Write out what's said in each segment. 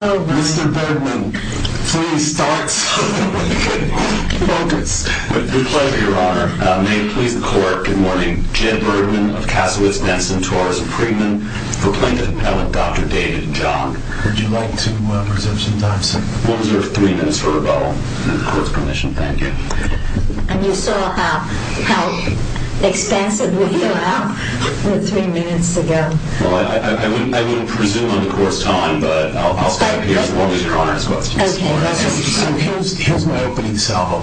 Mr. Birdman, please start so that we can focus. With great pleasure, your honor. May it please the court, good morning. Jed Birdman of Cassowitz-Denson, Taurus-Freedman. Proclaimed appellate Dr. David John. Would you like to reserve some time, sir? We'll reserve three minutes for rebuttal. With the court's permission, thank you. And you saw how expensive we fell out three minutes ago. Well, I wouldn't presume on the court's time, but I'll stop here as long as your honor has questions. Okay. So here's my opening salvo.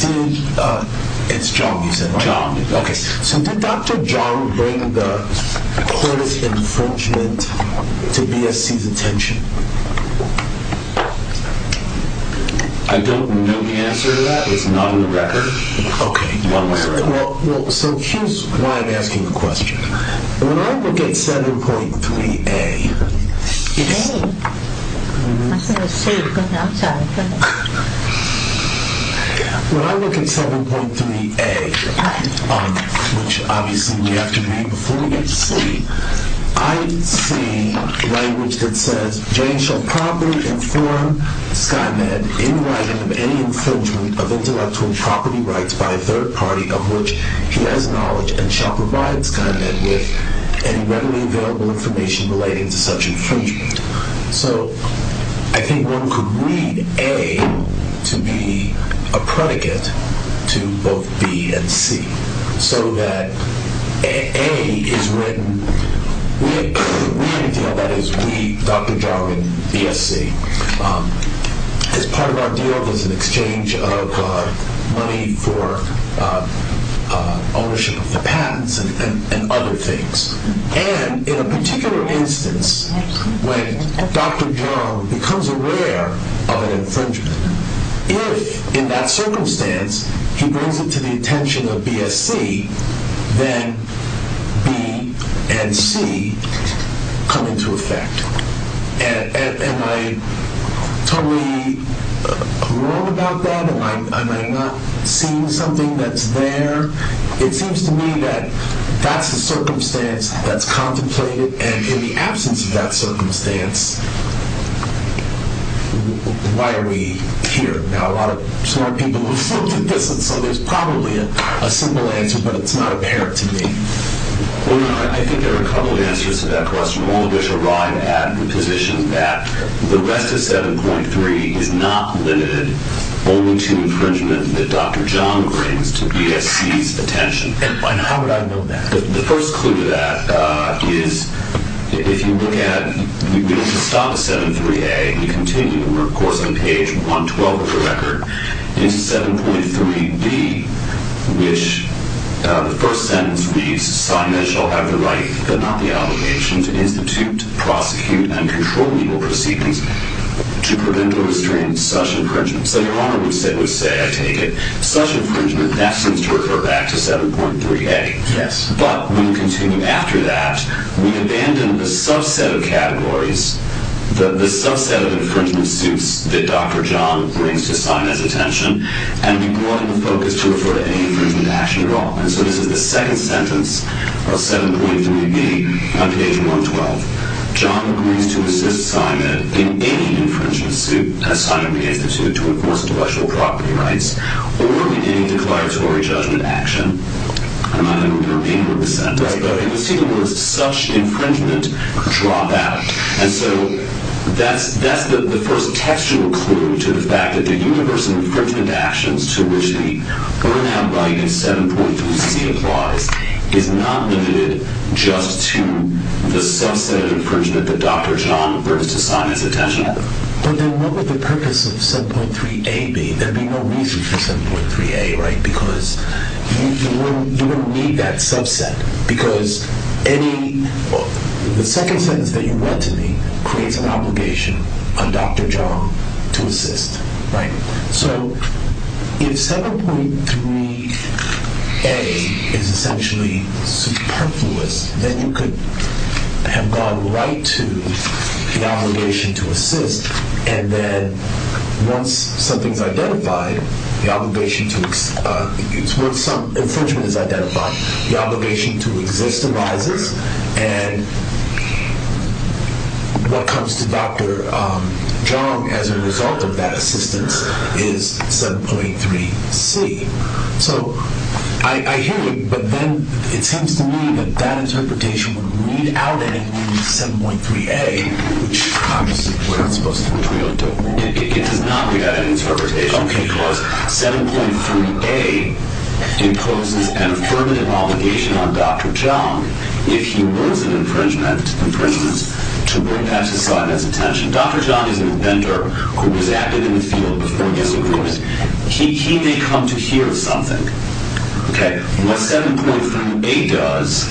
Did, it's John you said? John. Okay, so did Dr. John bring the court's infringement to BSC's attention? I don't know the answer to that. It's not on the record. Okay. Well, so here's why I'm asking the question. When I look at 7.3a, Jane? I thought you were going outside. When I look at 7.3a, which obviously we have to read before we get to C, I see language that says, Jane shall promptly inform Skynet in writing of any infringement of intellectual property rights by a third party of which he has knowledge and shall provide Skynet with any readily available information relating to such infringement. So I think one could read A to be a predicate to both B and C, so that A is written, we deal, that is we, Dr. John and BSC, as part of our deal is an exchange of money for ownership of the patents and other things. And in a particular instance, when Dr. John becomes aware of an infringement, if in that circumstance he brings it to the attention of BSC, then B and C come into effect. Am I totally wrong about that? Am I not seeing something that's there? It seems to me that that's the circumstance that's contemplated, and in the absence of that circumstance, why are we here? Now, a lot of smart people have looked at this, and so there's probably a simple answer, but it's not apparent to me. Well, I think there are a couple of answers to that question. All of us arrive at the position that the rest of 7.3 is not limited only to infringement that Dr. John brings to BSC's attention. And how would I know that? The first clue to that is if you look at, if you stop at 7.3a and you continue, we're, of course, on page 112 of the record, into 7.3b, which the first sentence reads, sign that shall have the right, but not the obligation, to institute, prosecute, and control legal proceedings to prevent or restrain such infringement. So Your Honor would say, I take it, such infringement, that seems to refer back to 7.3a. Yes. But when we continue after that, we abandon the subset of categories, the subset of infringement suits that Dr. John brings to Simon's attention, and we go into focus to refer to any infringement action at all. And so this is the second sentence of 7.3b on page 112. John agrees to assist Simon in any infringement suit, as Simon begins to do, to enforce intellectual property rights, or in any declaratory judgment action. I don't know if you remember the sentence, but it was taken where it said, such infringement, drop out. And so that's the first textual clue to the fact that the universal infringement actions to which the burnout right in 7.3c applies is not limited just to the subset of infringement that Dr. John brings to Simon's attention. But then what would the purpose of 7.3a be? There would be no reason for 7.3a, right? Because you wouldn't need that subset. Because the second sentence that you read to me creates an obligation on Dr. John to assist. So if 7.3a is essentially superfluous, then you could have gone right to the obligation to assist. And then once infringement is identified, the obligation to exist arises. And what comes to Dr. John as a result of that assistance is 7.3c. So I hear you. But then it seems to me that that interpretation would read out anything to 7.3a, which obviously we're not supposed to agree on, do we? It does not read out any interpretation. Because 7.3a imposes an affirmative obligation on Dr. John if he runs an infringement to bring that to Simon's attention. Dr. John is an inventor who was active in the field before he disagreed. He may come to hear something. What 7.3a does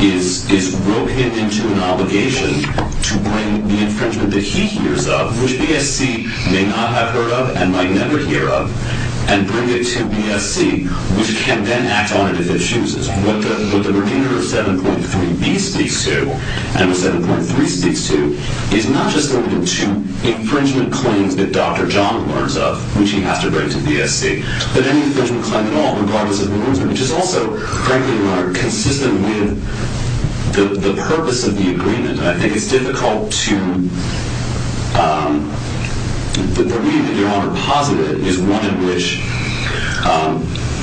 is rope him into an obligation to bring the infringement that he hears of, which BSC may not have heard of and might never hear of, and bring it to BSC, which can then act on it if it chooses. What the remainder of 7.3b speaks to, and what 7.3 speaks to, is not just limited to infringement claims that Dr. John learns of, which he has to bring to BSC, but any infringement claim at all regardless of who learns of it, which is also, frankly, Your Honor, consistent with the purpose of the agreement. And I think it's difficult to believe that, Your Honor, positive is one in which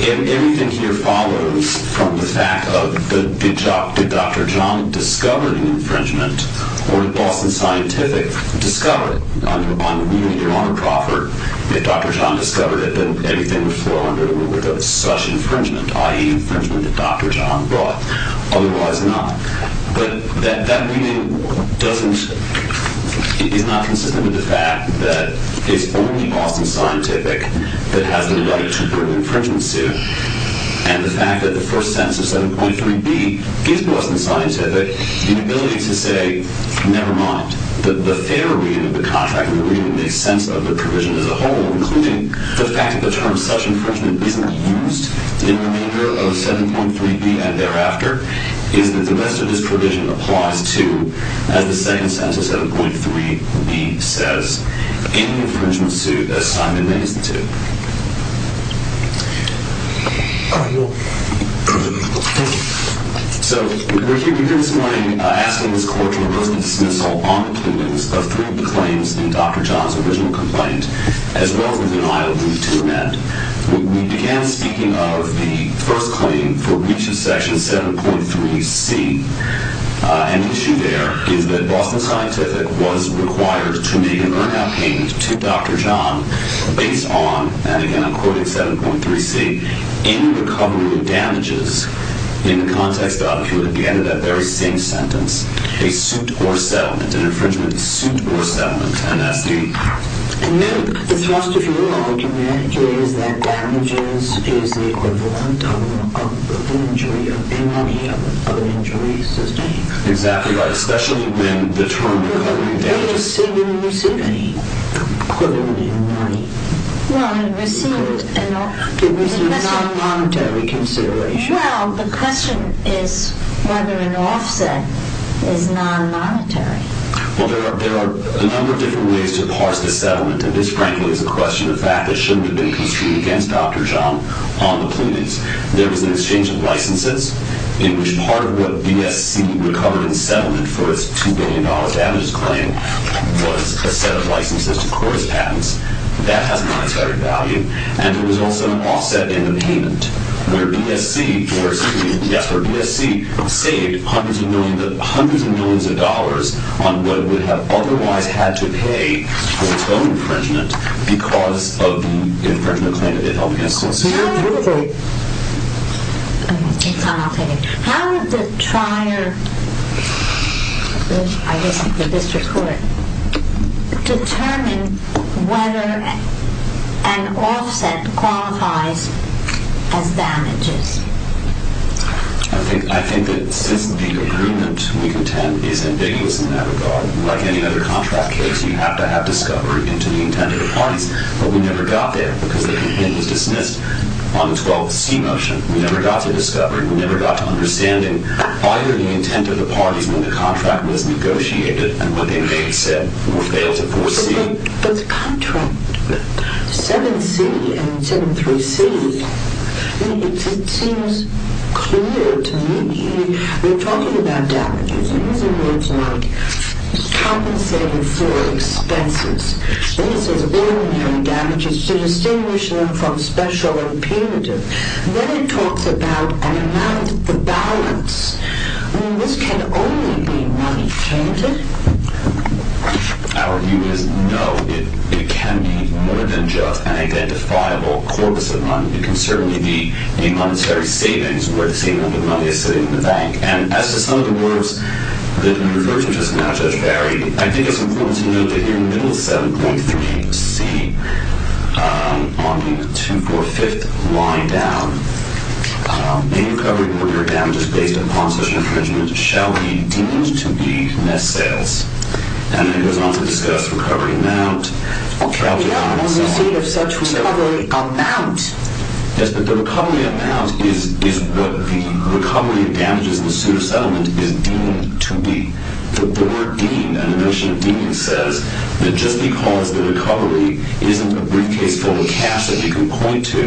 everything here follows from the fact that Dr. John discovered an infringement or the Boston Scientific discovered it. On the reading, Your Honor, Crawford, if Dr. John discovered it, then everything would flow under the roof of such infringement, i.e., infringement that Dr. John brought, otherwise not. But that reading is not consistent with the fact that it's only Boston Scientific that has the right to bring infringements to, and the fact that the first sentence of 7.3b gives Boston Scientific the ability to say, never mind, the fair reading of the contract, the reading that makes sense of the provision as a whole, including the fact that the term such infringement isn't used in the remainder of 7.3b and thereafter, is that the rest of this provision applies to, as the second sentence of 7.3b says, any infringement suit as Simon makes it to. So, we're here this morning asking this Court to reverse the dismissal on the prunings of three of the claims in Dr. John's original complaint, as well as the denial of the two men. We began speaking of the first claim for breach of Section 7.3c. And the issue there is that Boston Scientific was required to make an earnout payment to Dr. John based on, and again I'm quoting 7.3c, any recovery of damages in the context of, if you look at the end of that very same sentence, a suit or settlement, an infringement suit or settlement, and that's the... And then, the thrust of your argument is that damages is the equivalent of an injury, of any other injury sustained. Exactly right, especially when the term recovery of damages... Well, did it receive any equivalent in money? Well, it received a non-monetary consideration. Well, the question is whether an offset is non-monetary. Well, there are a number of different ways to parse the settlement, and this, frankly, is a question of fact that shouldn't have been construed against Dr. John on the prunings. There was an exchange of licenses, in which part of what BSC recovered in settlement for its $2 billion damages claim was a set of licenses to Cory's patents. That has non-monetary value. And there was also an offset in the payment, where BSC... ...on what it would have otherwise had to pay for its own infringement because of the infringement claim that it held against Cory. Now, really... Okay, Tom, I'll take it. How did the trier, I guess the district court, determine whether an offset qualifies as damages? I think that since the agreement we contend is ambiguous in that regard, like any other contract case, you have to have discovery into the intent of the parties. But we never got there because the content was dismissed on the 12C motion. We never got to discovery. We never got to understanding either the intent of the parties when the contract was negotiated and what they may have said or failed to foresee. But the contract, 7C and 7.3C, it seems clear to me. We're talking about damages, and these are words like compensated for expenses. Then it says ordinary damages to distinguish them from special and punitive. Then it talks about an amount of balance. This can only be money, can't it? Our view is no. It can be more than just an identifiable corpus of money. It can certainly be a monetary savings where the same amount of money is sitting in the bank. And as to some of the words that you referred to just now, Judge Barry, I think it's important to note that here in the middle of 7.3C, on the 245th line down, any recovery or damages based upon such infringement shall be deemed to be net sales. And then it goes on to discuss recovery amount. Okay, but what do you mean of such recovery amount? Yes, but the recovery amount is what the recovery of damages in the suit of settlement is deemed to be. The word deemed and the notion of deemed says that just because the recovery isn't a briefcase full of cash that you can point to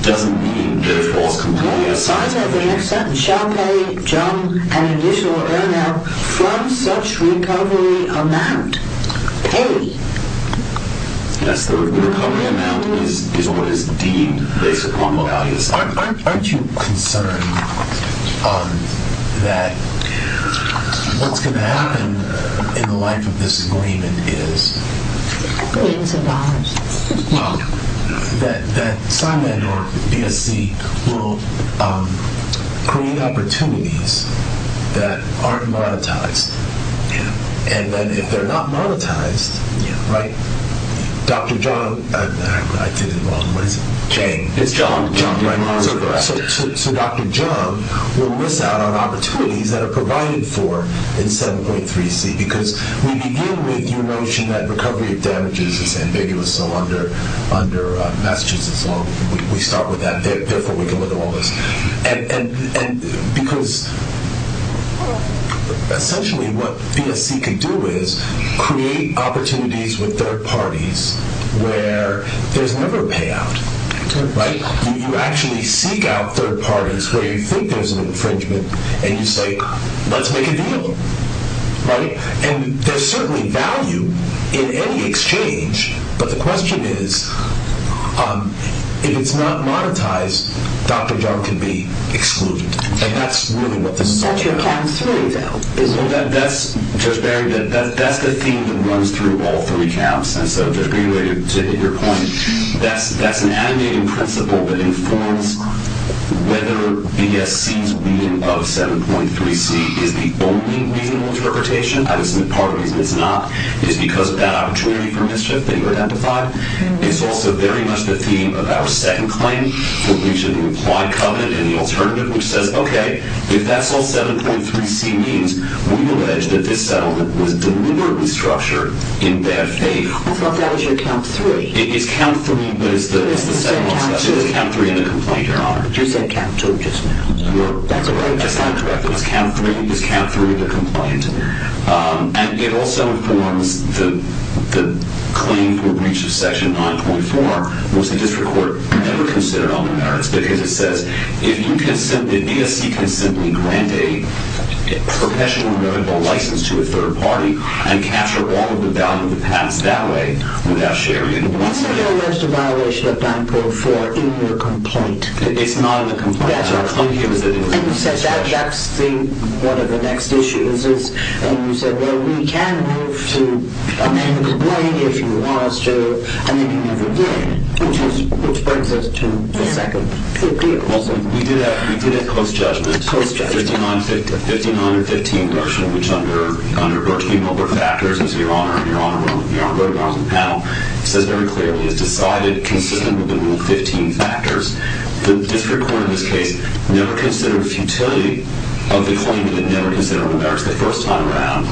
doesn't mean that it falls completely out of sight. No, besides that, the next sentence shall pay John an additional earner from such recovery amount. Pay? Yes, the recovery amount is what is deemed based upon the value of the settlement. Aren't you concerned that what's going to happen in the life of this agreement is... that Simon or BSC will create opportunities that aren't monetized. And then if they're not monetized, right, Dr. John... I did it wrong. What is it? Chang. It's John. So Dr. John will miss out on opportunities that are provided for in 7.3C because we begin with your notion that recovery of damages is ambiguous. So under Massachusetts law, we start with that. Therefore, we can look at all this. And because essentially what BSC can do is create opportunities with third parties where there's never a payout, right? You actually seek out third parties where you think there's an infringement and you say, let's make a deal, right? And there's certainly value in any exchange, but the question is if it's not monetized, Dr. John can be excluded. And that's really what this is all about. 7.3, though. That's just very good. That's the theme that runs through all three camps. And so just to reiterate your point, that's an agitating principle that informs whether BSC's reading of 7.3C is the only reasonable interpretation. I would submit part of the reason it's not is because of that opportunity for mischief that you identified. It's also very much the theme of our second claim, which is the implied covenant and the alternative, which says, okay, if that's all 7.3C means, we allege that this settlement was deliberately structured in bad faith. I thought that was your count three. It is count three, but it's the second one. So it's count three in the complaint, Your Honor. You said count two just now. That's not correct. It was count three. It was count three in the complaint. And it also informs the claim for breach of Section 9.4, which the district court never considered on the merits, because it says if you can simply, BSC can simply grant a professional medical license to a third party and capture all of the value of the past that way without sharing it. You said there was a violation of 9.4 in your complaint. It's not in the complaint. And you said that's the next issue. And you said, well, we can move to amend the complaint if you want us to. And then you never did, which brings us to the second. We did a close judgment. A close judgment. The motion which under 13 other factors, Your Honor, and Your Honor wrote about it on the panel, says very clearly it's decided consistent with the rule 15 factors. The district court in this case never considered futility of the claim and never considered on the merits the first time around.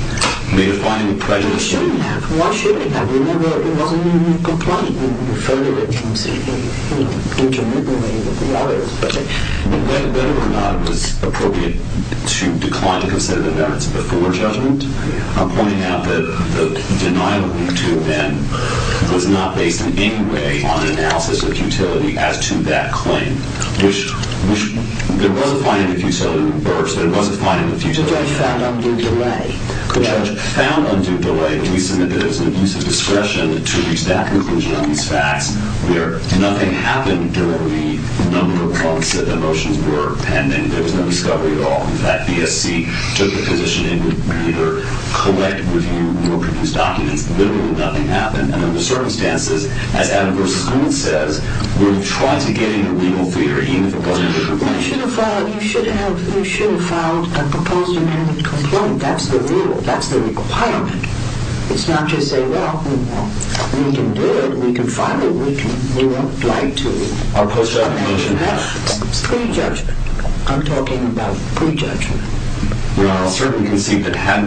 May I find the prejudice? It shouldn't have. Why shouldn't it have? Remember, it wasn't in the complaint. You further it from intermittently with the lawyers. Whether or not it was appropriate to decline to consider the merits before judgment, I'm pointing out that the denial we do then was not based in any way on an analysis of futility as to that claim, which there was a finding of futility in the first. There was a finding of futility. The judge found undue delay. The judge found undue delay. We submit that it was an abuse of discretion to reach that conclusion where nothing happened during the number of months that the motions were pending. There was no discovery at all. In fact, BSC took the position it would either collect, review, or produce documents that literally nothing happened. Under the circumstances, as Adam versus Newman says, we're trying to get in a legal theater even if it wasn't in the complaint. You should have filed a proposed amendment complaint. That's the rule. That's the requirement. It's not to say, well, we can do it, we can file it, we won't like to. Our post-judgment motion has pre-judgment. I'm talking about pre-judgment. Well, I'll certainly concede that had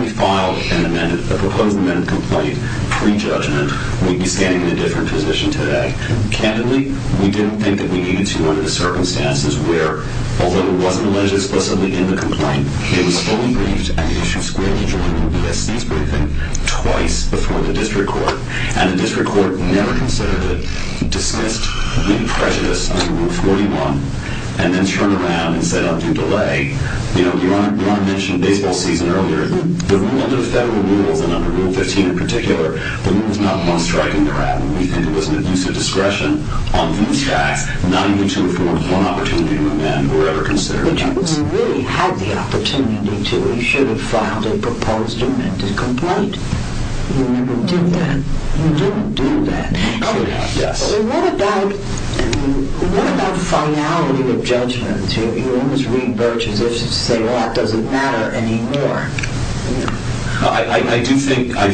we filed an amendment, a proposed amendment complaint pre-judgment, we'd be standing in a different position today. Candidly, we didn't think that we needed to under the circumstances where although it wasn't alleged explicitly in the complaint, it was fully briefed and issued squarely during the BSC's briefing twice before the district court, and the district court never considered it, dismissed any prejudice under Rule 41, and then turned around and said, I'll do delay. You know, Your Honor mentioned baseball season earlier. The rule under the federal rules, and under Rule 15 in particular, the rule was not one striking the rat. We think it was an abuse of discretion on these facts, not even to afford one opportunity to amend or ever consider a change. But if we really had the opportunity to, we should have filed a proposed amendment to the complaint. You never did that. You didn't do that. And what about finality of judgment? You almost read Birch's issue to say, well, that doesn't matter anymore. I do think that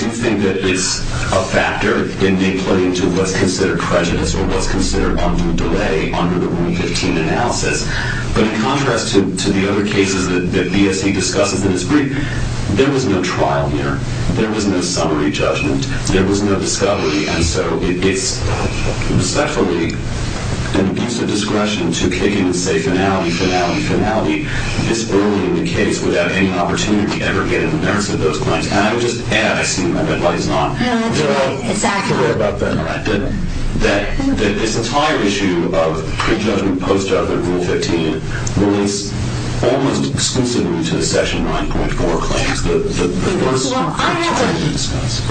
it's a factor in being put into what's considered prejudice or what's considered under delay under the Rule 15 analysis. But in contrast to the other cases that BSC discusses in its brief, there was no trial here. There was no summary judgment. There was no discovery. And so it's respectfully an abuse of discretion to kick in and say, finality, finality, finality, this early in the case without any opportunity to ever get in the merits of those claims. And I would just add, I assume everybody's not. No, that's right. Exactly. I'm not aware about that. This entire issue of pre-judgment, post-judgment, Rule 15, relates almost exclusively to the Section 9.4 claims. Well,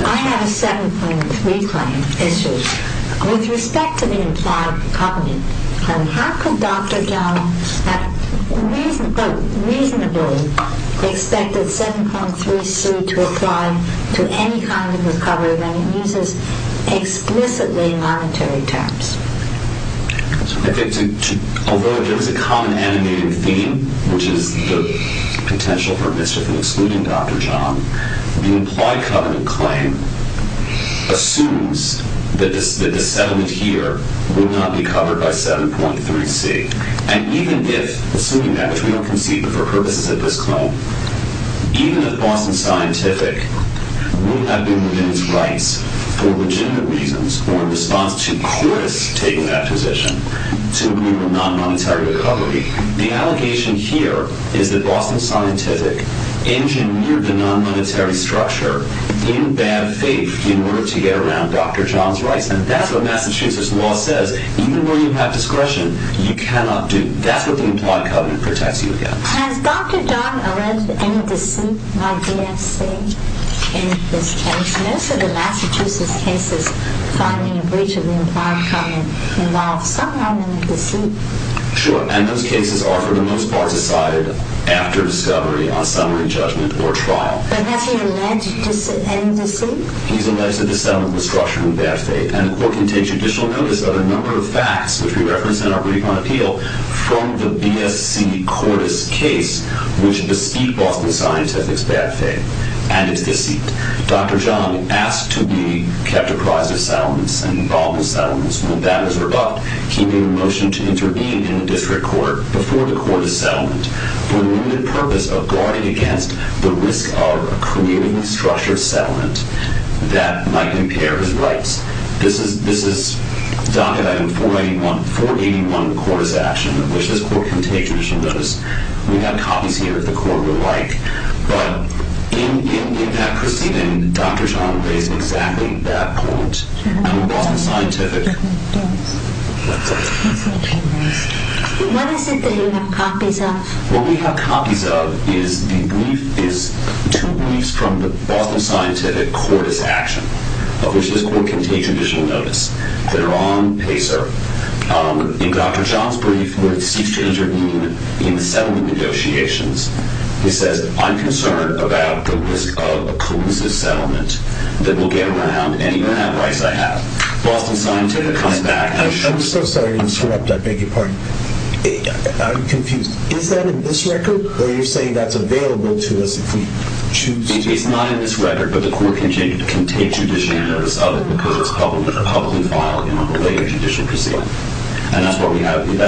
I have a 7.3 claim issue. With respect to the implied covenant claim, how could Dr. John reasonably expect a 7.3 suit to apply to any kind of recovery when it uses explicitly monetary terms? Although there is a common animating theme, which is the potential for mischief in excluding Dr. John, the implied covenant claim assumes that the settlement here will not be covered by 7.3C. And even if, assuming that, if we don't concede that for purposes of this claim, even if Boston Scientific would not be moving its rights for legitimate reasons or in response to Curtis taking that position to move a non-monetary recovery, the allegation here is that Boston Scientific engineered the non-monetary structure in bad faith in order to get around Dr. John's rights. And that's what Massachusetts law says. Even where you have discretion, you cannot do. That's what the implied covenant protects you against. Has Dr. John alleged any deceit by BSC in this case? Most of the Massachusetts cases finding a breach of the implied covenant involve some amount of deceit. Sure. And those cases are, for the most part, decided after discovery on summary judgment or trial. But has he alleged any deceit? He's alleged that the settlement was structured in bad faith. And the court can take judicial notice of a number of facts, which we reference in our brief on appeal, from the BSC-Curtis case, which deceit Boston Scientific's bad faith and its deceit. Dr. John asked to be kept apprised of settlements and involved in settlements. When that was revoked, he made a motion to intervene in the district court before the court of settlement for the limited purpose of guarding against the risk of creating a structured settlement that might impair his rights. This is docket item 481, the Curtis action, which this court can take judicial notice. We have copies here if the court would like. But in that proceeding, Dr. John raised exactly that point. What is it that you have copies of? What we have copies of is two briefs from the Boston Scientific Curtis action, which this court can take judicial notice, that are on PACER. In Dr. John's brief, where he seeks to intervene in the settlement negotiations, he says, I'm concerned about the risk of a collusive settlement that will get around any bad rights I have. Boston Scientific comes back. I'm so sorry to interrupt. I beg your pardon. I'm confused. Is that in this record? Or are you saying that's available to us if we choose to? It's not in this record, but the court can take judicial notice of it because it's publicly filed in a related judicial proceeding. And that's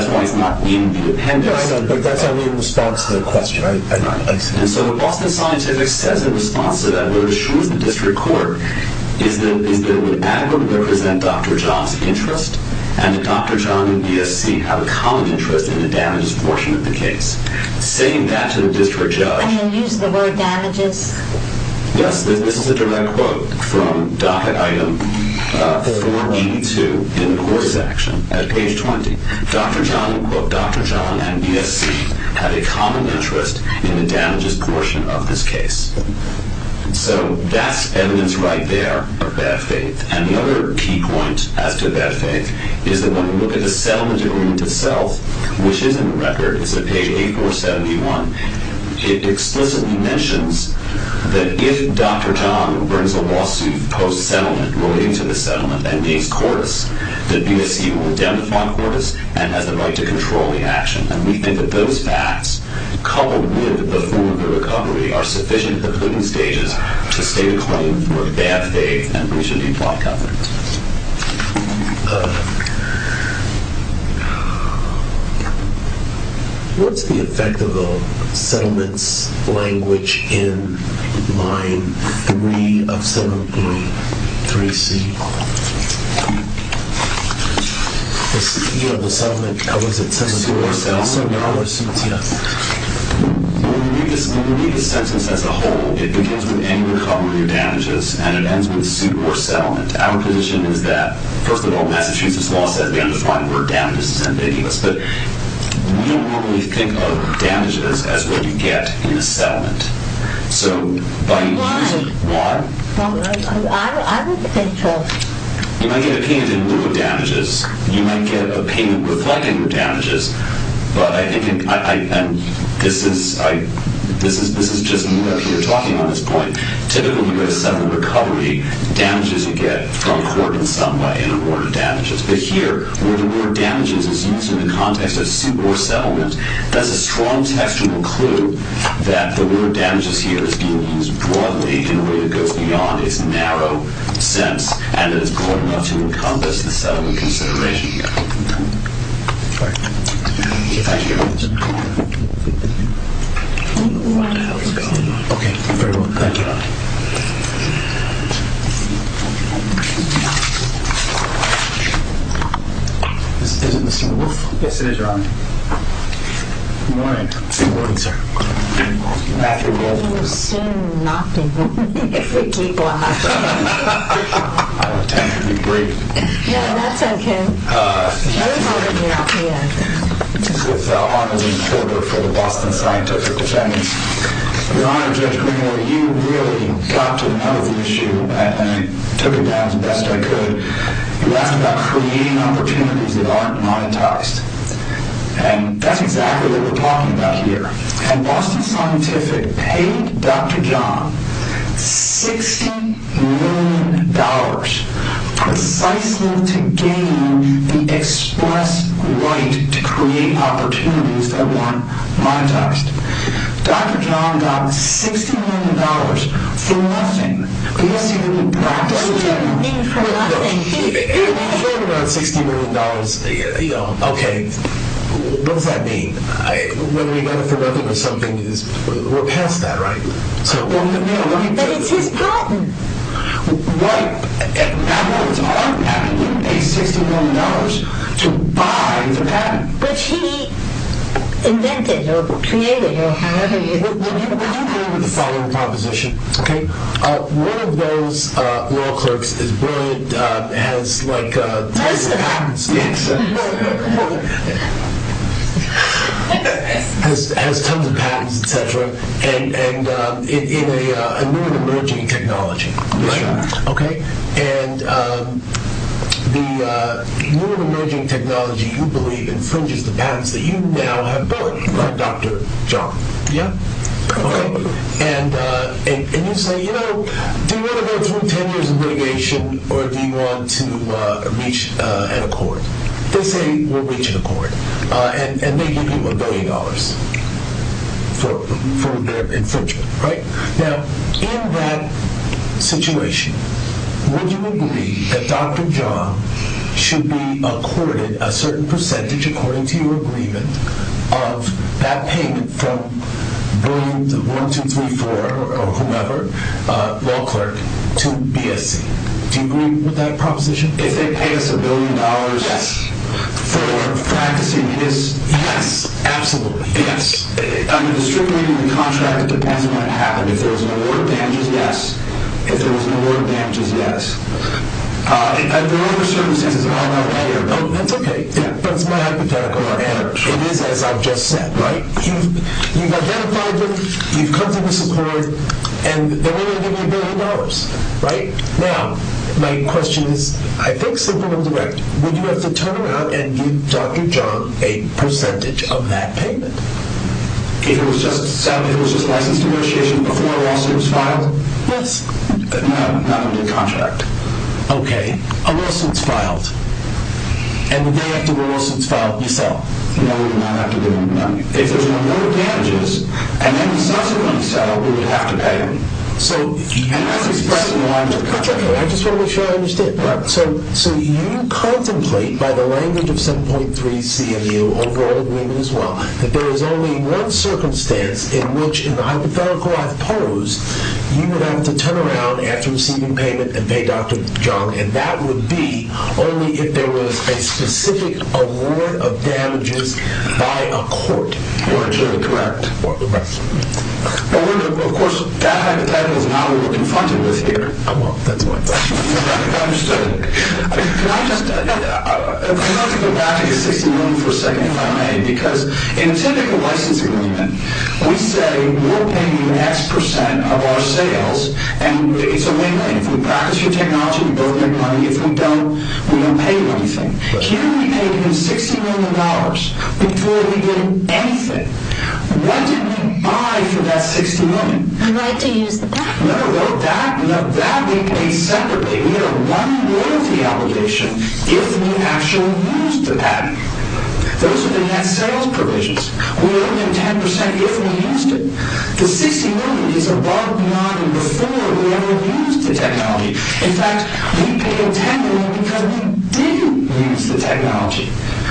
why it's not in the appendix. But that's only in response to the question, right? Right. And so the Boston Scientific says in response to that, what it assures the district court is that it would adequately represent Dr. John's interest and that Dr. John and ESC have a common interest in the damages portion of the case. Saying that to the district judge And then use the word damages. Yes, this is a direct quote from docket item 482 in the court's action at page 20. Dr. John and ESC have a common interest in the damages portion of this case. So that's evidence right there of bad faith. And the other key point as to bad faith is that when we look at the settlement agreement itself, which is in the record, it's on page 8471. It explicitly mentions that if Dr. John brings a lawsuit post-settlement relating to the settlement that means Cortis, that ESC will identify Cortis and has the right to control the action. And we think that those facts, coupled with the form of the recovery, are sufficient at the putting stages to state a claim for bad faith and we should be blocked out. What's the effect of the settlements language in line 3 of settlement agreement 3C? You know, the settlement, how is it? A suit or settlement? A suit or settlement, yeah. When we read the sentence as a whole, it begins with any recovery or damages and it ends with suit or settlement. Our position is that, first of all, Massachusetts law says we understand the word damages but we don't normally think of damages as what you get in a settlement. So by using... Why? Why? I don't think so. You might get a payment in lieu of damages. You might get a payment reflecting your damages. But I think, and this is just me up here talking on this point, typically with a settlement recovery, damages you get from court in some way are awarded damages. But here, where the word damages is used in the context of suit or settlement, that's a strong textual clue that the word damages here is being used broadly in a way that goes beyond its narrow sense and that it's broad enough to encompass the settlement consideration. All right. Thank you. I don't know why the hell this is going on. Okay. Thank you. Is it Mr. Woolf? Yes, it is, Your Honor. Good morning. Good morning, sir. Matthew Woolf. He was soon knocked in. Deep laugh. I don't tend to be brave. Yeah, that's okay. This is Armandine Porter for the Boston Scientific Defendants. Your Honor, Judge Greenwood, you really got to the heart of the issue and I took it down as best I could. You asked about creating opportunities that aren't monetized. And that's exactly what we're talking about here. And Boston Scientific paid Dr. John $60 million precisely to gain the express right to create opportunities that weren't monetized. Dr. John got $60 million for nothing. What does he mean for nothing? He claimed about $60 million. Okay, what does that mean? When we benefit nothing or something, we're past that, right? But it's his patent. What? That was our patent. He paid $60 million to buy the patent. Which he invented or created or had. We do agree with the following proposition, okay? One of those law clerks is brilliant, has tons of patents, etc. And in a new and emerging technology. And the new and emerging technology, you believe, infringes the patents that you now have bought by Dr. John. Yeah. And you say, you know, do you want to go through 10 years of litigation or do you want to reach an accord? They say we'll reach an accord. And they give you $1 billion for their infringement, right? Now, in that situation, would you agree that Dr. John should be accorded a certain percentage, according to your agreement, of that payment from brilliant 1234 or whomever law clerk to BSC? Do you agree with that proposition? If they pay us $1 billion for practicing this? Yes. Absolutely. Yes. I mean, distributing the contract, it depends on what happened. If there was an award of damages, yes. If there was an award of damages, yes. If there were other circumstances, I don't know. That's okay. That's my hypothetical answer. It is as I've just said, right? You've identified them, you've come to this accord, and they're willing to give you $1 billion, right? Now, my question is, I think simple and direct. Would you have to turn around and give Dr. John a percentage of that payment? If it was just a licensed negotiation before a lawsuit was filed? No, not under the contract. Okay. A lawsuit's filed. And the day after the lawsuit's filed, you sell. No, we would not have to do that. If there's an award of damages, and then the subsequent sale, we would have to pay them. And that's expressed in the lines of contract. That's okay. I just want to make sure I understand. So you contemplate, by the language of 7.3 CMU, overall agreement as well, that there is only one circumstance in which, in the hypothetical I've posed, you would have to turn around after receiving payment and pay Dr. John, and that would be only if there was a specific award of damages by a court. Correct. Of course, that hypothetical is not what we're confronted with here. I won't. That's why. Understood. Can I just go back to the $60 million for a second, if I may? Because in a typical license agreement, we say we're paying the next percent of our sales, and it's a win-win. If we practice your technology, we both make money. If we don't, we don't pay you anything. Here we paid him $60 million before we did anything. What did we buy for that $60 million? The right to use the patent. No, that we paid separately. We had a one royalty obligation if we actually used the patent. Those are the net sales provisions. We owe him 10% if we used it. The $60 million is above, beyond, and before we ever used the technology. In fact, we paid $10 million because we didn't use the technology.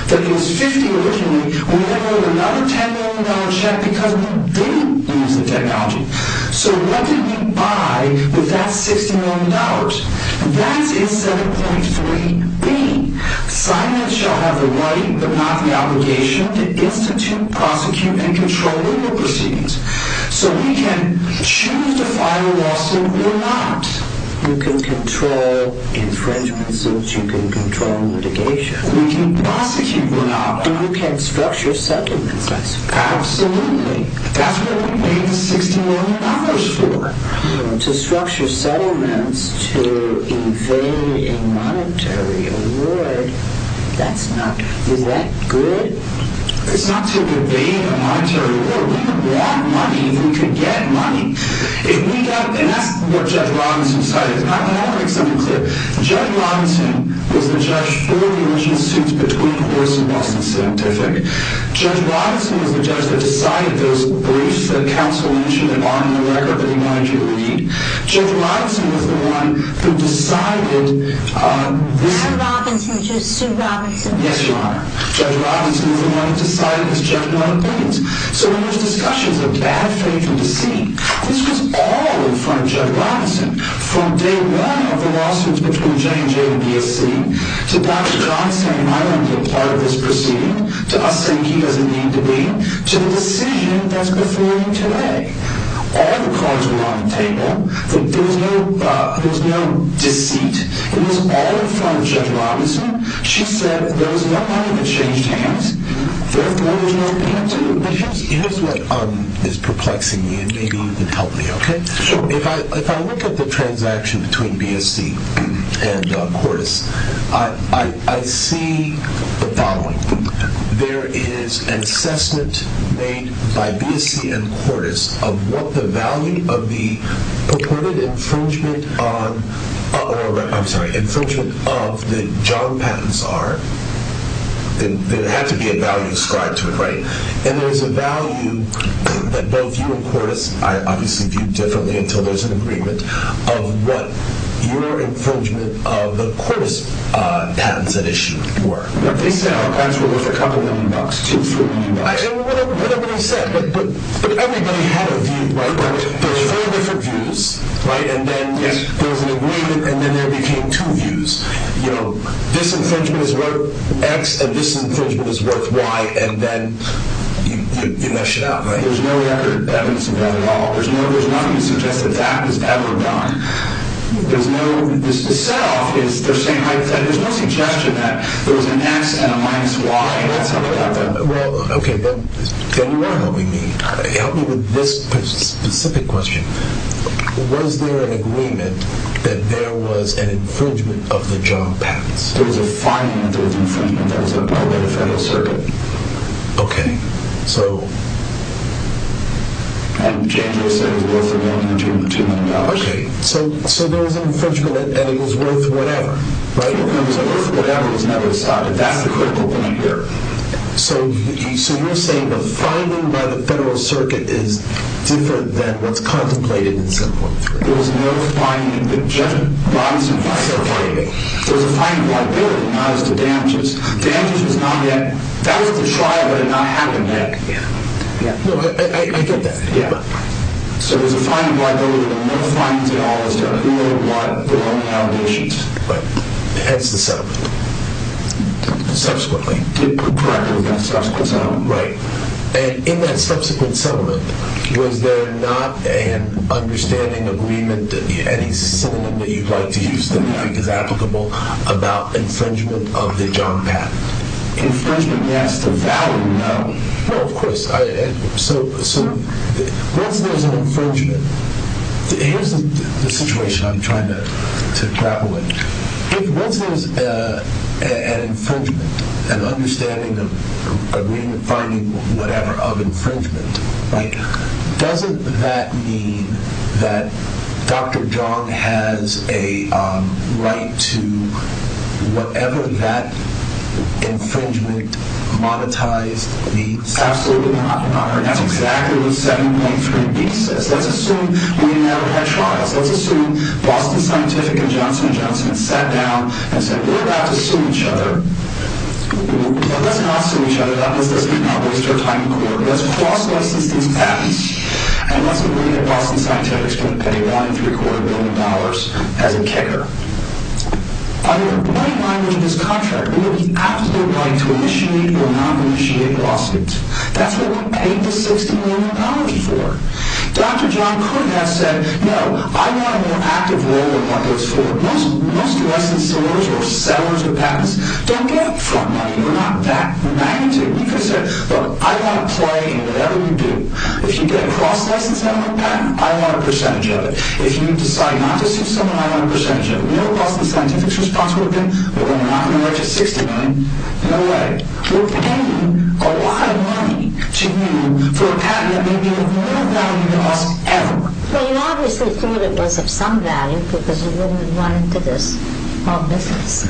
That was $50 million originally, and we never wrote another $10 million check because we didn't use the technology. So what did we buy with that $60 million? That's his 7.3B. Silence shall have the right, but not the obligation, to institute, prosecute, and control the law proceedings. So we can choose to file a lawsuit or not. You can control infringements. You can control litigation. We can prosecute or not. You can structure settlements, I suppose. Absolutely. That's what we paid the $60 million for. To structure settlements to evade a monetary award, that's not good. Is that good? It's not to evade a monetary award. We would want money if we could get money. And that's what Judge Robinson decided. I want to make something clear. Judge Robinson was the judge for the original suits between Horse and Boston Scientific. Judge Robinson was the judge that decided those briefs that counsel mentioned on the record that he wanted you to read. Judge Robinson was the one who decided this. I'm Robinson. She's Sue Robinson. Yes, you are. Judge Robinson was the one who decided his general opinions. So when there's discussions of bad faith or deceit, this was all in front of Judge Robinson, from day one of the lawsuits between J&J and BSC, to Dr. John saying I don't want to be a part of this proceeding, to us saying he doesn't need to be, to the decision that's before you today. All the cards were on the table. There was no deceit. It was all in front of Judge Robinson. She said there was no money to change hands. There was no money to change hands. But here's what is perplexing me, and maybe you can help me, okay? Sure. If I look at the transaction between BSC and Quartus, I see the following. There is an assessment made by BSC and Quartus of what the value of the purported infringement of the John patents are. There had to be a value ascribed to it, right? And there's a value that both you and Quartus, I obviously view differently until there's an agreement, of what your infringement of the Quartus patents that issue were. They said our patents were worth a couple million bucks, two or three million bucks. I don't know what everybody said, but everybody had a view, right? There were four different views, right? And then there was an agreement, and then there became two views. You know, this infringement is worth X, and this infringement is worth Y, and then you mess it up, right? There's no record evidence of that at all. There's nothing to suggest that that was ever done. There's no – the set-off is the same height as that. There was an X and a minus Y, and that's how it happened. Well, okay, then you are helping me. Help me with this specific question. Was there an agreement that there was an infringement of the John patents? There was a finding that there was an infringement that was upheld by the Federal Circuit. Okay, so... And James said it was worth $1.2 million. Okay, so there was an infringement, and it was worth whatever, right? It was worth whatever was never decided. That's the critical point here. So you're saying the finding by the Federal Circuit is different than what's contemplated in 7.3? There was no finding. There was a finding of liability, not as to damages. Damages was not yet – that was the trial, but it had not happened yet. No, I get that. So there's a finding of liability, but no findings at all as to who or what the allegations. Right. Hence the settlement. Subsequently. Correct, there was no subsequent settlement. Right. And in that subsequent settlement, was there not an understanding, agreement, any synonym that you'd like to use that you think is applicable about infringement of the John patent? Infringement, yes. The value, no. Well, of course. So once there's an infringement – here's the situation I'm trying to grapple with. Once there's an infringement, an understanding, agreement, finding, whatever, of infringement, doesn't that mean that Dr. Jung has a right to whatever that infringement monetized? Absolutely not. That's exactly what 7.3b says. Let's assume we never had trials. Let's assume Boston Scientific and Johnson & Johnson sat down and said, we're about to sue each other, but let's not sue each other. Let's not waste our time in court. Let's cross-license these patents. And let's agree that Boston Scientific is going to pay $1.75 billion as a kicker. Under the money language of this contract, we will be absolutely right to initiate or not initiate lawsuits. That's what we paid the $60 million for. Dr. Jung could have said, no, I want a more active role in what goes forward. Most licensors or sellers of patents don't get front money. They're not that magnetic. He could have said, look, I want to play in whatever you do. If you get a cross-license on a patent, I want a percentage of it. If you decide not to sue someone, I want a percentage of it. You know what Boston Scientific's response would have been? That we're not going to register $60 million. No way. We're paying a lot of money to you for a patent that may be of no value to us ever. Well, you obviously thought it was of some value because you wouldn't have run into this whole business.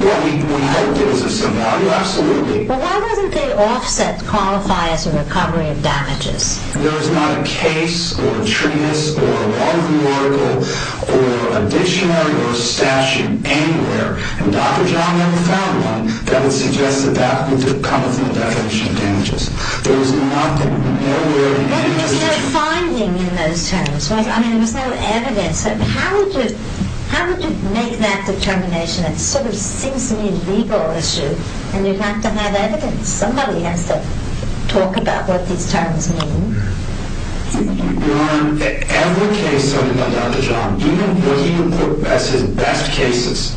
Well, we hoped it was of some value, absolutely. Well, why wasn't the offset qualified as a recovery of damages? There was not a case or a treatise or a law review article or a dictionary or a statute anywhere, and Dr. Jung never found one, that would suggest that that would come from the definition of damages. There was nothing, nowhere in the dictionary. Well, there was no finding in those terms. I mean, there was no evidence. How would you make that determination? It sort of seems to me a legal issue, and you'd have to have evidence. Somebody has to talk about what these terms mean. Your Honor, every case of Dr. Jung, even what he would put as his best cases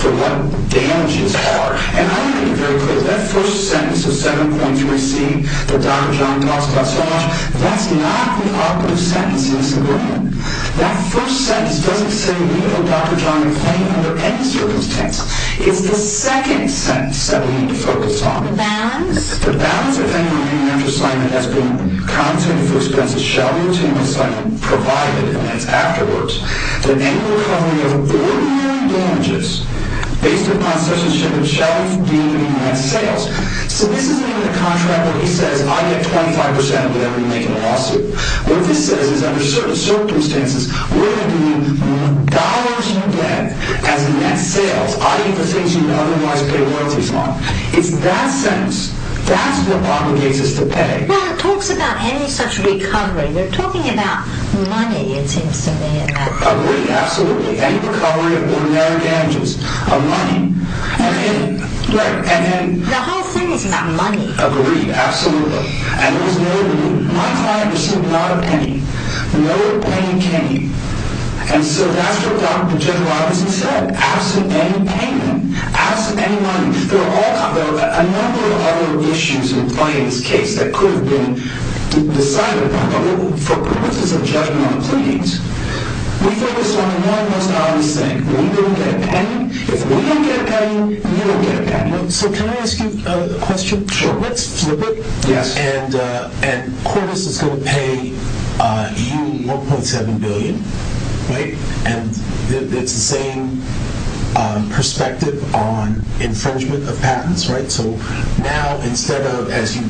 for what damages are, and I want to be very clear, that first sentence of 7.3C that Dr. Jung calls cost so much, that's not the output of sentencing. That first sentence doesn't say we or Dr. Jung claim under any circumstance. It's the second sentence that we need to focus on. So this isn't even a contract where he says, I get 25% of whatever you make in a lawsuit. What this says is under certain circumstances, we're going to be in dollars more debt as net sales, i.e. the things you'd otherwise pay royalties on. It's that sentence, that's what obligates us to pay. Well, it talks about any such recovery. You're talking about money, it seems to me, in that case. Agreed, absolutely. Any recovery of ordinary damages. Of money. And then... Right, and then... The whole thing is about money. Agreed, absolutely. My client received not a penny. No penny came. And so that's what Dr. Jung obviously said. Absent any payment. Absent any money. There are a number of other issues in fighting this case that could have been decided upon. But for purposes of judgmental pleadings, we focus on one most obvious thing. We don't get a penny. If we don't get a penny, you don't get a penny. So can I ask you a question? Sure. So let's flip it. Yes. And Cordes is going to pay you 1.7 billion, right? And it's the same perspective on infringement of patents, right? So now instead of, as you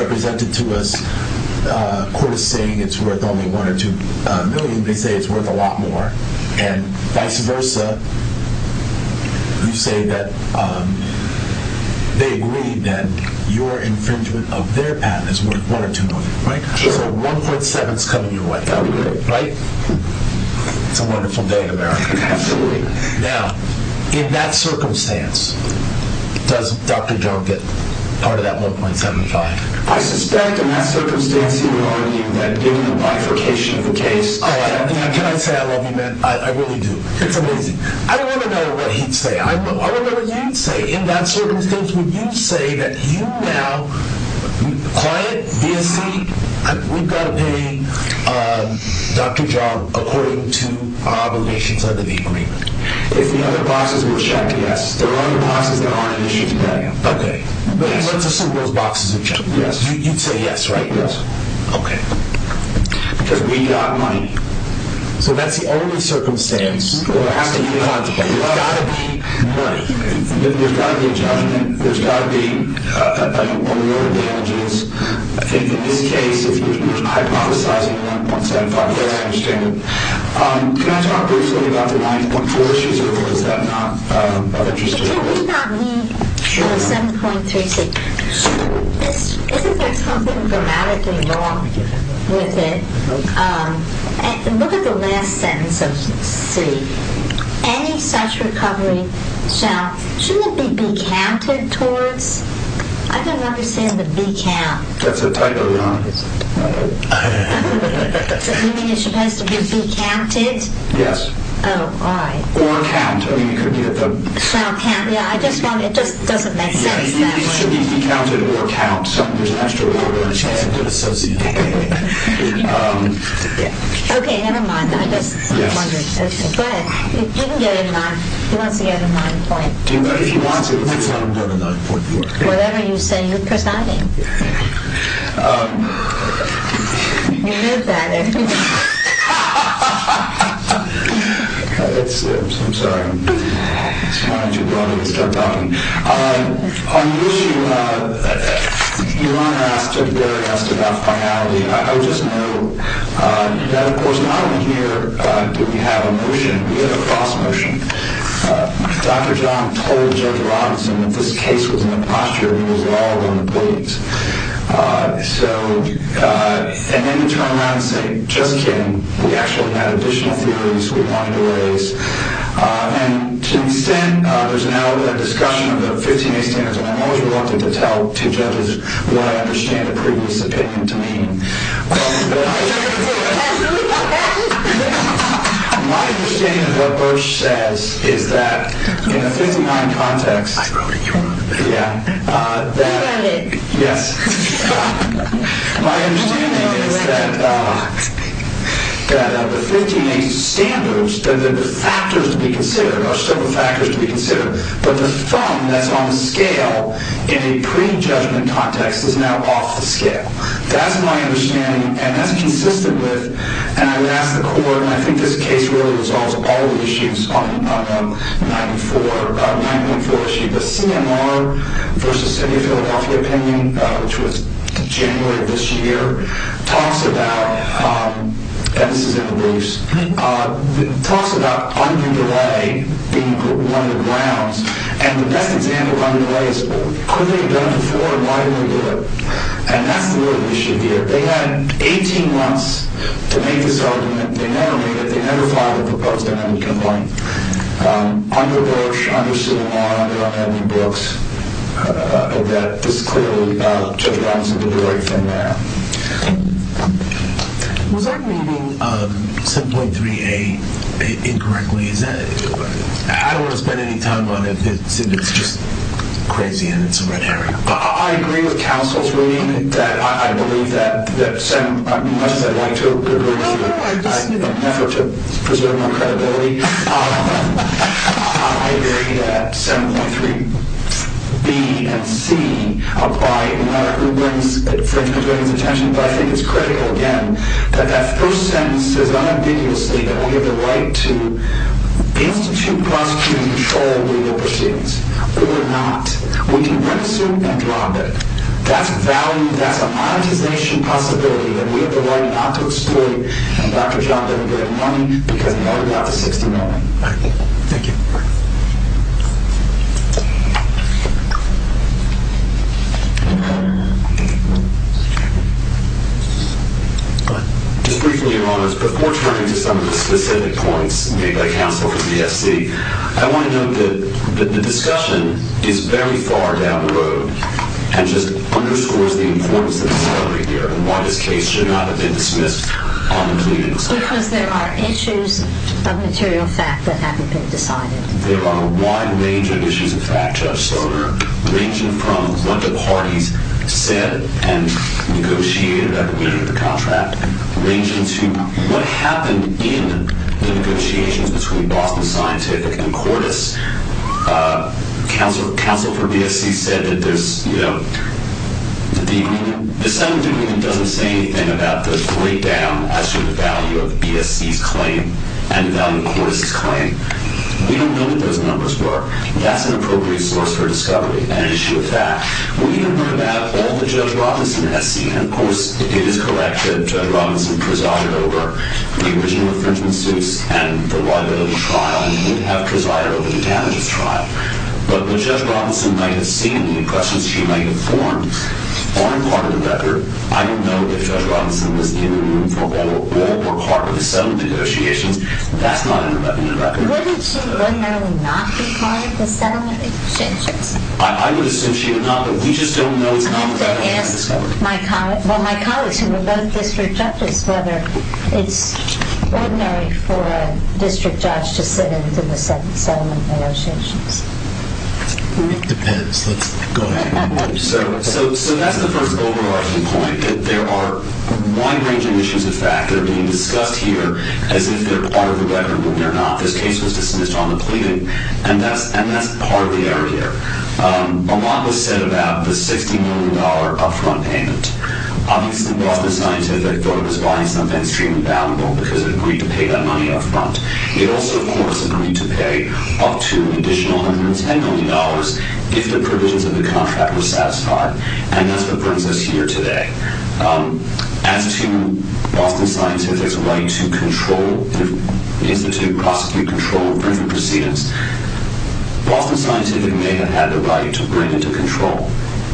represented to us, Cordes saying it's worth only 1 or 2 million, they say it's worth a lot more. And vice versa, you say that they agree that your infringement of their patent is worth 1 or 2 million, right? Sure. So 1.7 is coming your way now, right? It's a wonderful day in America. Absolutely. Now, in that circumstance, does Dr. Jung get part of that 1.75? I suspect in that circumstance he would argue that given the bifurcation of the case... Can I say I love you, man? I really do. It's amazing. I want to know what he'd say. I want to know what you'd say. In that circumstance, would you say that you now... Quiet, be a seat. We've got to pay Dr. Jung according to our obligations under the agreement. If the other boxes were checked, yes. There are other boxes that aren't issued yet. Okay. But let's assume those boxes are checked. You'd say yes, right? Yes. Okay. Because we got money. So that's the only circumstance. There has to be money. There's got to be money. There's got to be a judgment. There's got to be award damages. I think in this case, if you're hypothesizing about 1.75, I understand. Can I talk briefly about the 9.4 issue? Is that not of interest to you? We got the 7.36. Isn't there something grammatically wrong with it? Look at the last sentence of C. Any such recovery shall... Shouldn't it be be counted towards? I don't understand the be count. That's a title, isn't it? You mean it's supposed to be be counted? Yes. Oh, all right. Or count. It doesn't make sense that way. It should be be counted or count. There's an extra order to associate it with. Okay. Never mind. I just wondered. But you can get a 9. He wants to get a 9. If he wants it, he can get a 9.4. Whatever you say, you're presiding. You live better. I'm sorry. It's kind of too broad. Let's start talking. On the issue, Your Honor asked about finality. I would just note that, of course, not only here do we have a motion, we have a cross motion. Dr. John told Judge Robinson that this case was in a posture that he was at all going to please. And then to turn around and say, just kidding, we actually had additional theories we wanted to raise. And to the extent there's now a discussion of the 15-A standards, I'm always reluctant to tell two judges what I understand a previous opinion to mean. My understanding of what Burch says is that in a 59 context, I wrote it, Your Honor. Yeah. You got it. Yes. My understanding is that the 15-A standards, the factors to be considered are several factors to be considered, but the thumb that's on the scale in a prejudgment context is now off the scale. That's my understanding, and that's consistent with, and I would ask the court, and I think this case really resolves all the issues on 9.4, the CMR versus City of Philadelphia opinion, which was January of this year, talks about, and this is in the briefs, talks about underdelay being one of the grounds. And the best example of underdelay is, could they have done it before, and why didn't they do it? And that's the real issue here. They had 18 months to make this argument. They never made it. They never filed a proposed amendment complaint. Under Bush, under Suleiman, under Edwin Brooks, that this clearly, Judge Robinson did the right thing there. Was I reading 7.3a incorrectly? I don't want to spend any time on it. It's just crazy, and it's a red herring. I agree with counsel's reading. I believe that, as much as I'd like to agree with you, in an effort to preserve my credibility, I agree that 7.3b and 7.3c apply, no matter who brings it to the attention, but I think it's critical, again, that that first sentence says unambiguously that we have the right to institute, prosecute, and control legal proceedings. But we're not. We can rent a suit and drop it. That's value. That's a monetization possibility, and we have the right not to exploit Dr. Johnson to get money because he only got the 69. All right. Thank you. Just briefly, Your Honor, before turning to some of the specific points made by counsel for BSC, I want to note that the discussion is very far down the road and just underscores the importance of the discovery here and why this case should not have been dismissed unambiguously. Because there are issues of material fact that haven't been decided. There are a wide range of issues of fact, Judge Stoner, ranging from what the parties said and negotiated at the meeting of the contract, ranging to what happened in the negotiations between Boston Scientific and Cordes. Counsel for BSC said that there's, you know, the settlement agreement doesn't say anything about the breakdown as to the value of BSC's claim and the value of Cordes' claim. We don't know what those numbers were. That's an appropriate source for discovery, an issue of fact. We don't know about all that Judge Robinson has seen. And, of course, it is correct that Judge Robinson presided over the original infringement suits and the liability trial and would have presided over the damages trial. But what Judge Robinson might have seen and the questions she might have formed aren't part of the record. I don't know if Judge Robinson was in the room for all or part of the settlement negotiations. That's not in the record. Wouldn't she ordinarily not be part of the settlement negotiations? I would assume she would not, but we just don't know. I have to ask my colleagues, well, my colleagues who were both district judges, whether it's ordinary for a district judge to sit in to the settlement negotiations. It depends. Let's go ahead. So that's the first overarching point, that there are a wide range of issues of fact that are being discussed here as if they're part of the record when they're not. This case was dismissed on the pleading, and that's part of the error here. A lot was said about the $60 million up-front payment. Obviously, the Boston Scientific thought it was buying something extremely valuable because it agreed to pay that money up front. It also, of course, agreed to pay up to an additional $110 million if the provisions of the contract were satisfied, and that's what brings us here today. As to Boston Scientific's right to control, institute, prosecute, control, and bring for proceedings, Boston Scientific may have had the right to bring it to control.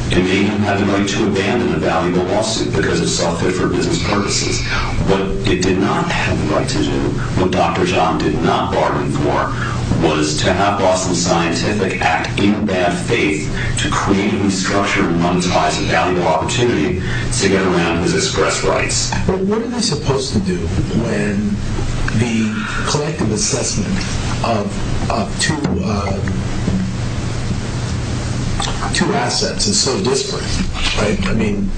It may have had the right to abandon a valuable lawsuit because it saw fit for business purposes. What it did not have the right to do, what Dr. John did not bargain for, was to have Boston Scientific act in bad faith to create and structure and monetize a valuable opportunity to get around his express rights. But what are they supposed to do when the collective assessment of two assets is so disparate? I mean,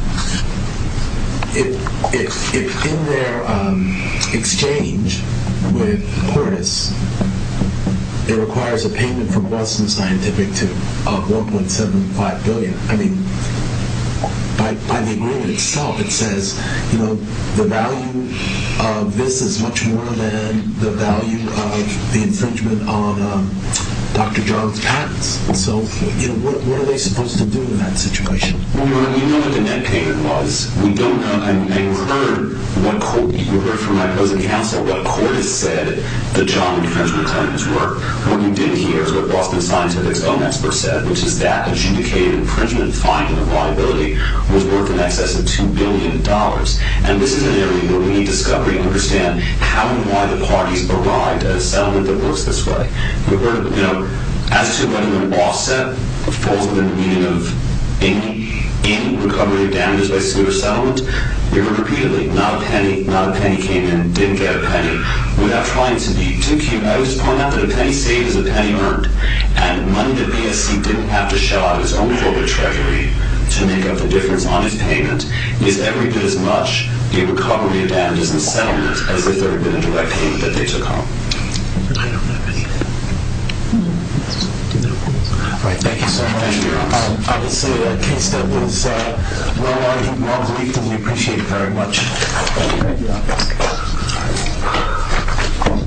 if in their exchange with Portis, it requires a payment from Boston Scientific of $1.75 billion, I mean, by the agreement itself, it says, the value of this is much more than the value of the infringement on Dr. John's patents. So what are they supposed to do in that situation? Well, you know what the net payment was. We don't know, and you heard from my present counsel, what Portis said the John infringement claims were. What you didn't hear is what Boston Scientific's own expert said, which is that adjudicated infringement finding of liability was worth in excess of $2 billion. And this is an area where we need discovery and understand how and why the parties arrived at a settlement that works this way. As to whether the lawsuit falls within the meaning of any recovery of damages by suit or settlement, we heard repeatedly, not a penny came in, didn't get a penny. Without trying to be too cute, I would just point out that a penny saved is a penny earned. And money that BSC didn't have to shell out of its own corporate treasury to make up the difference on its payment is every bit as much in recovery of damages and settlement as if there had been a direct payment that they took home. I don't know. All right, thank you, sir. Thank you. Obviously, a case that was well argued and well briefed, and we appreciate it very much.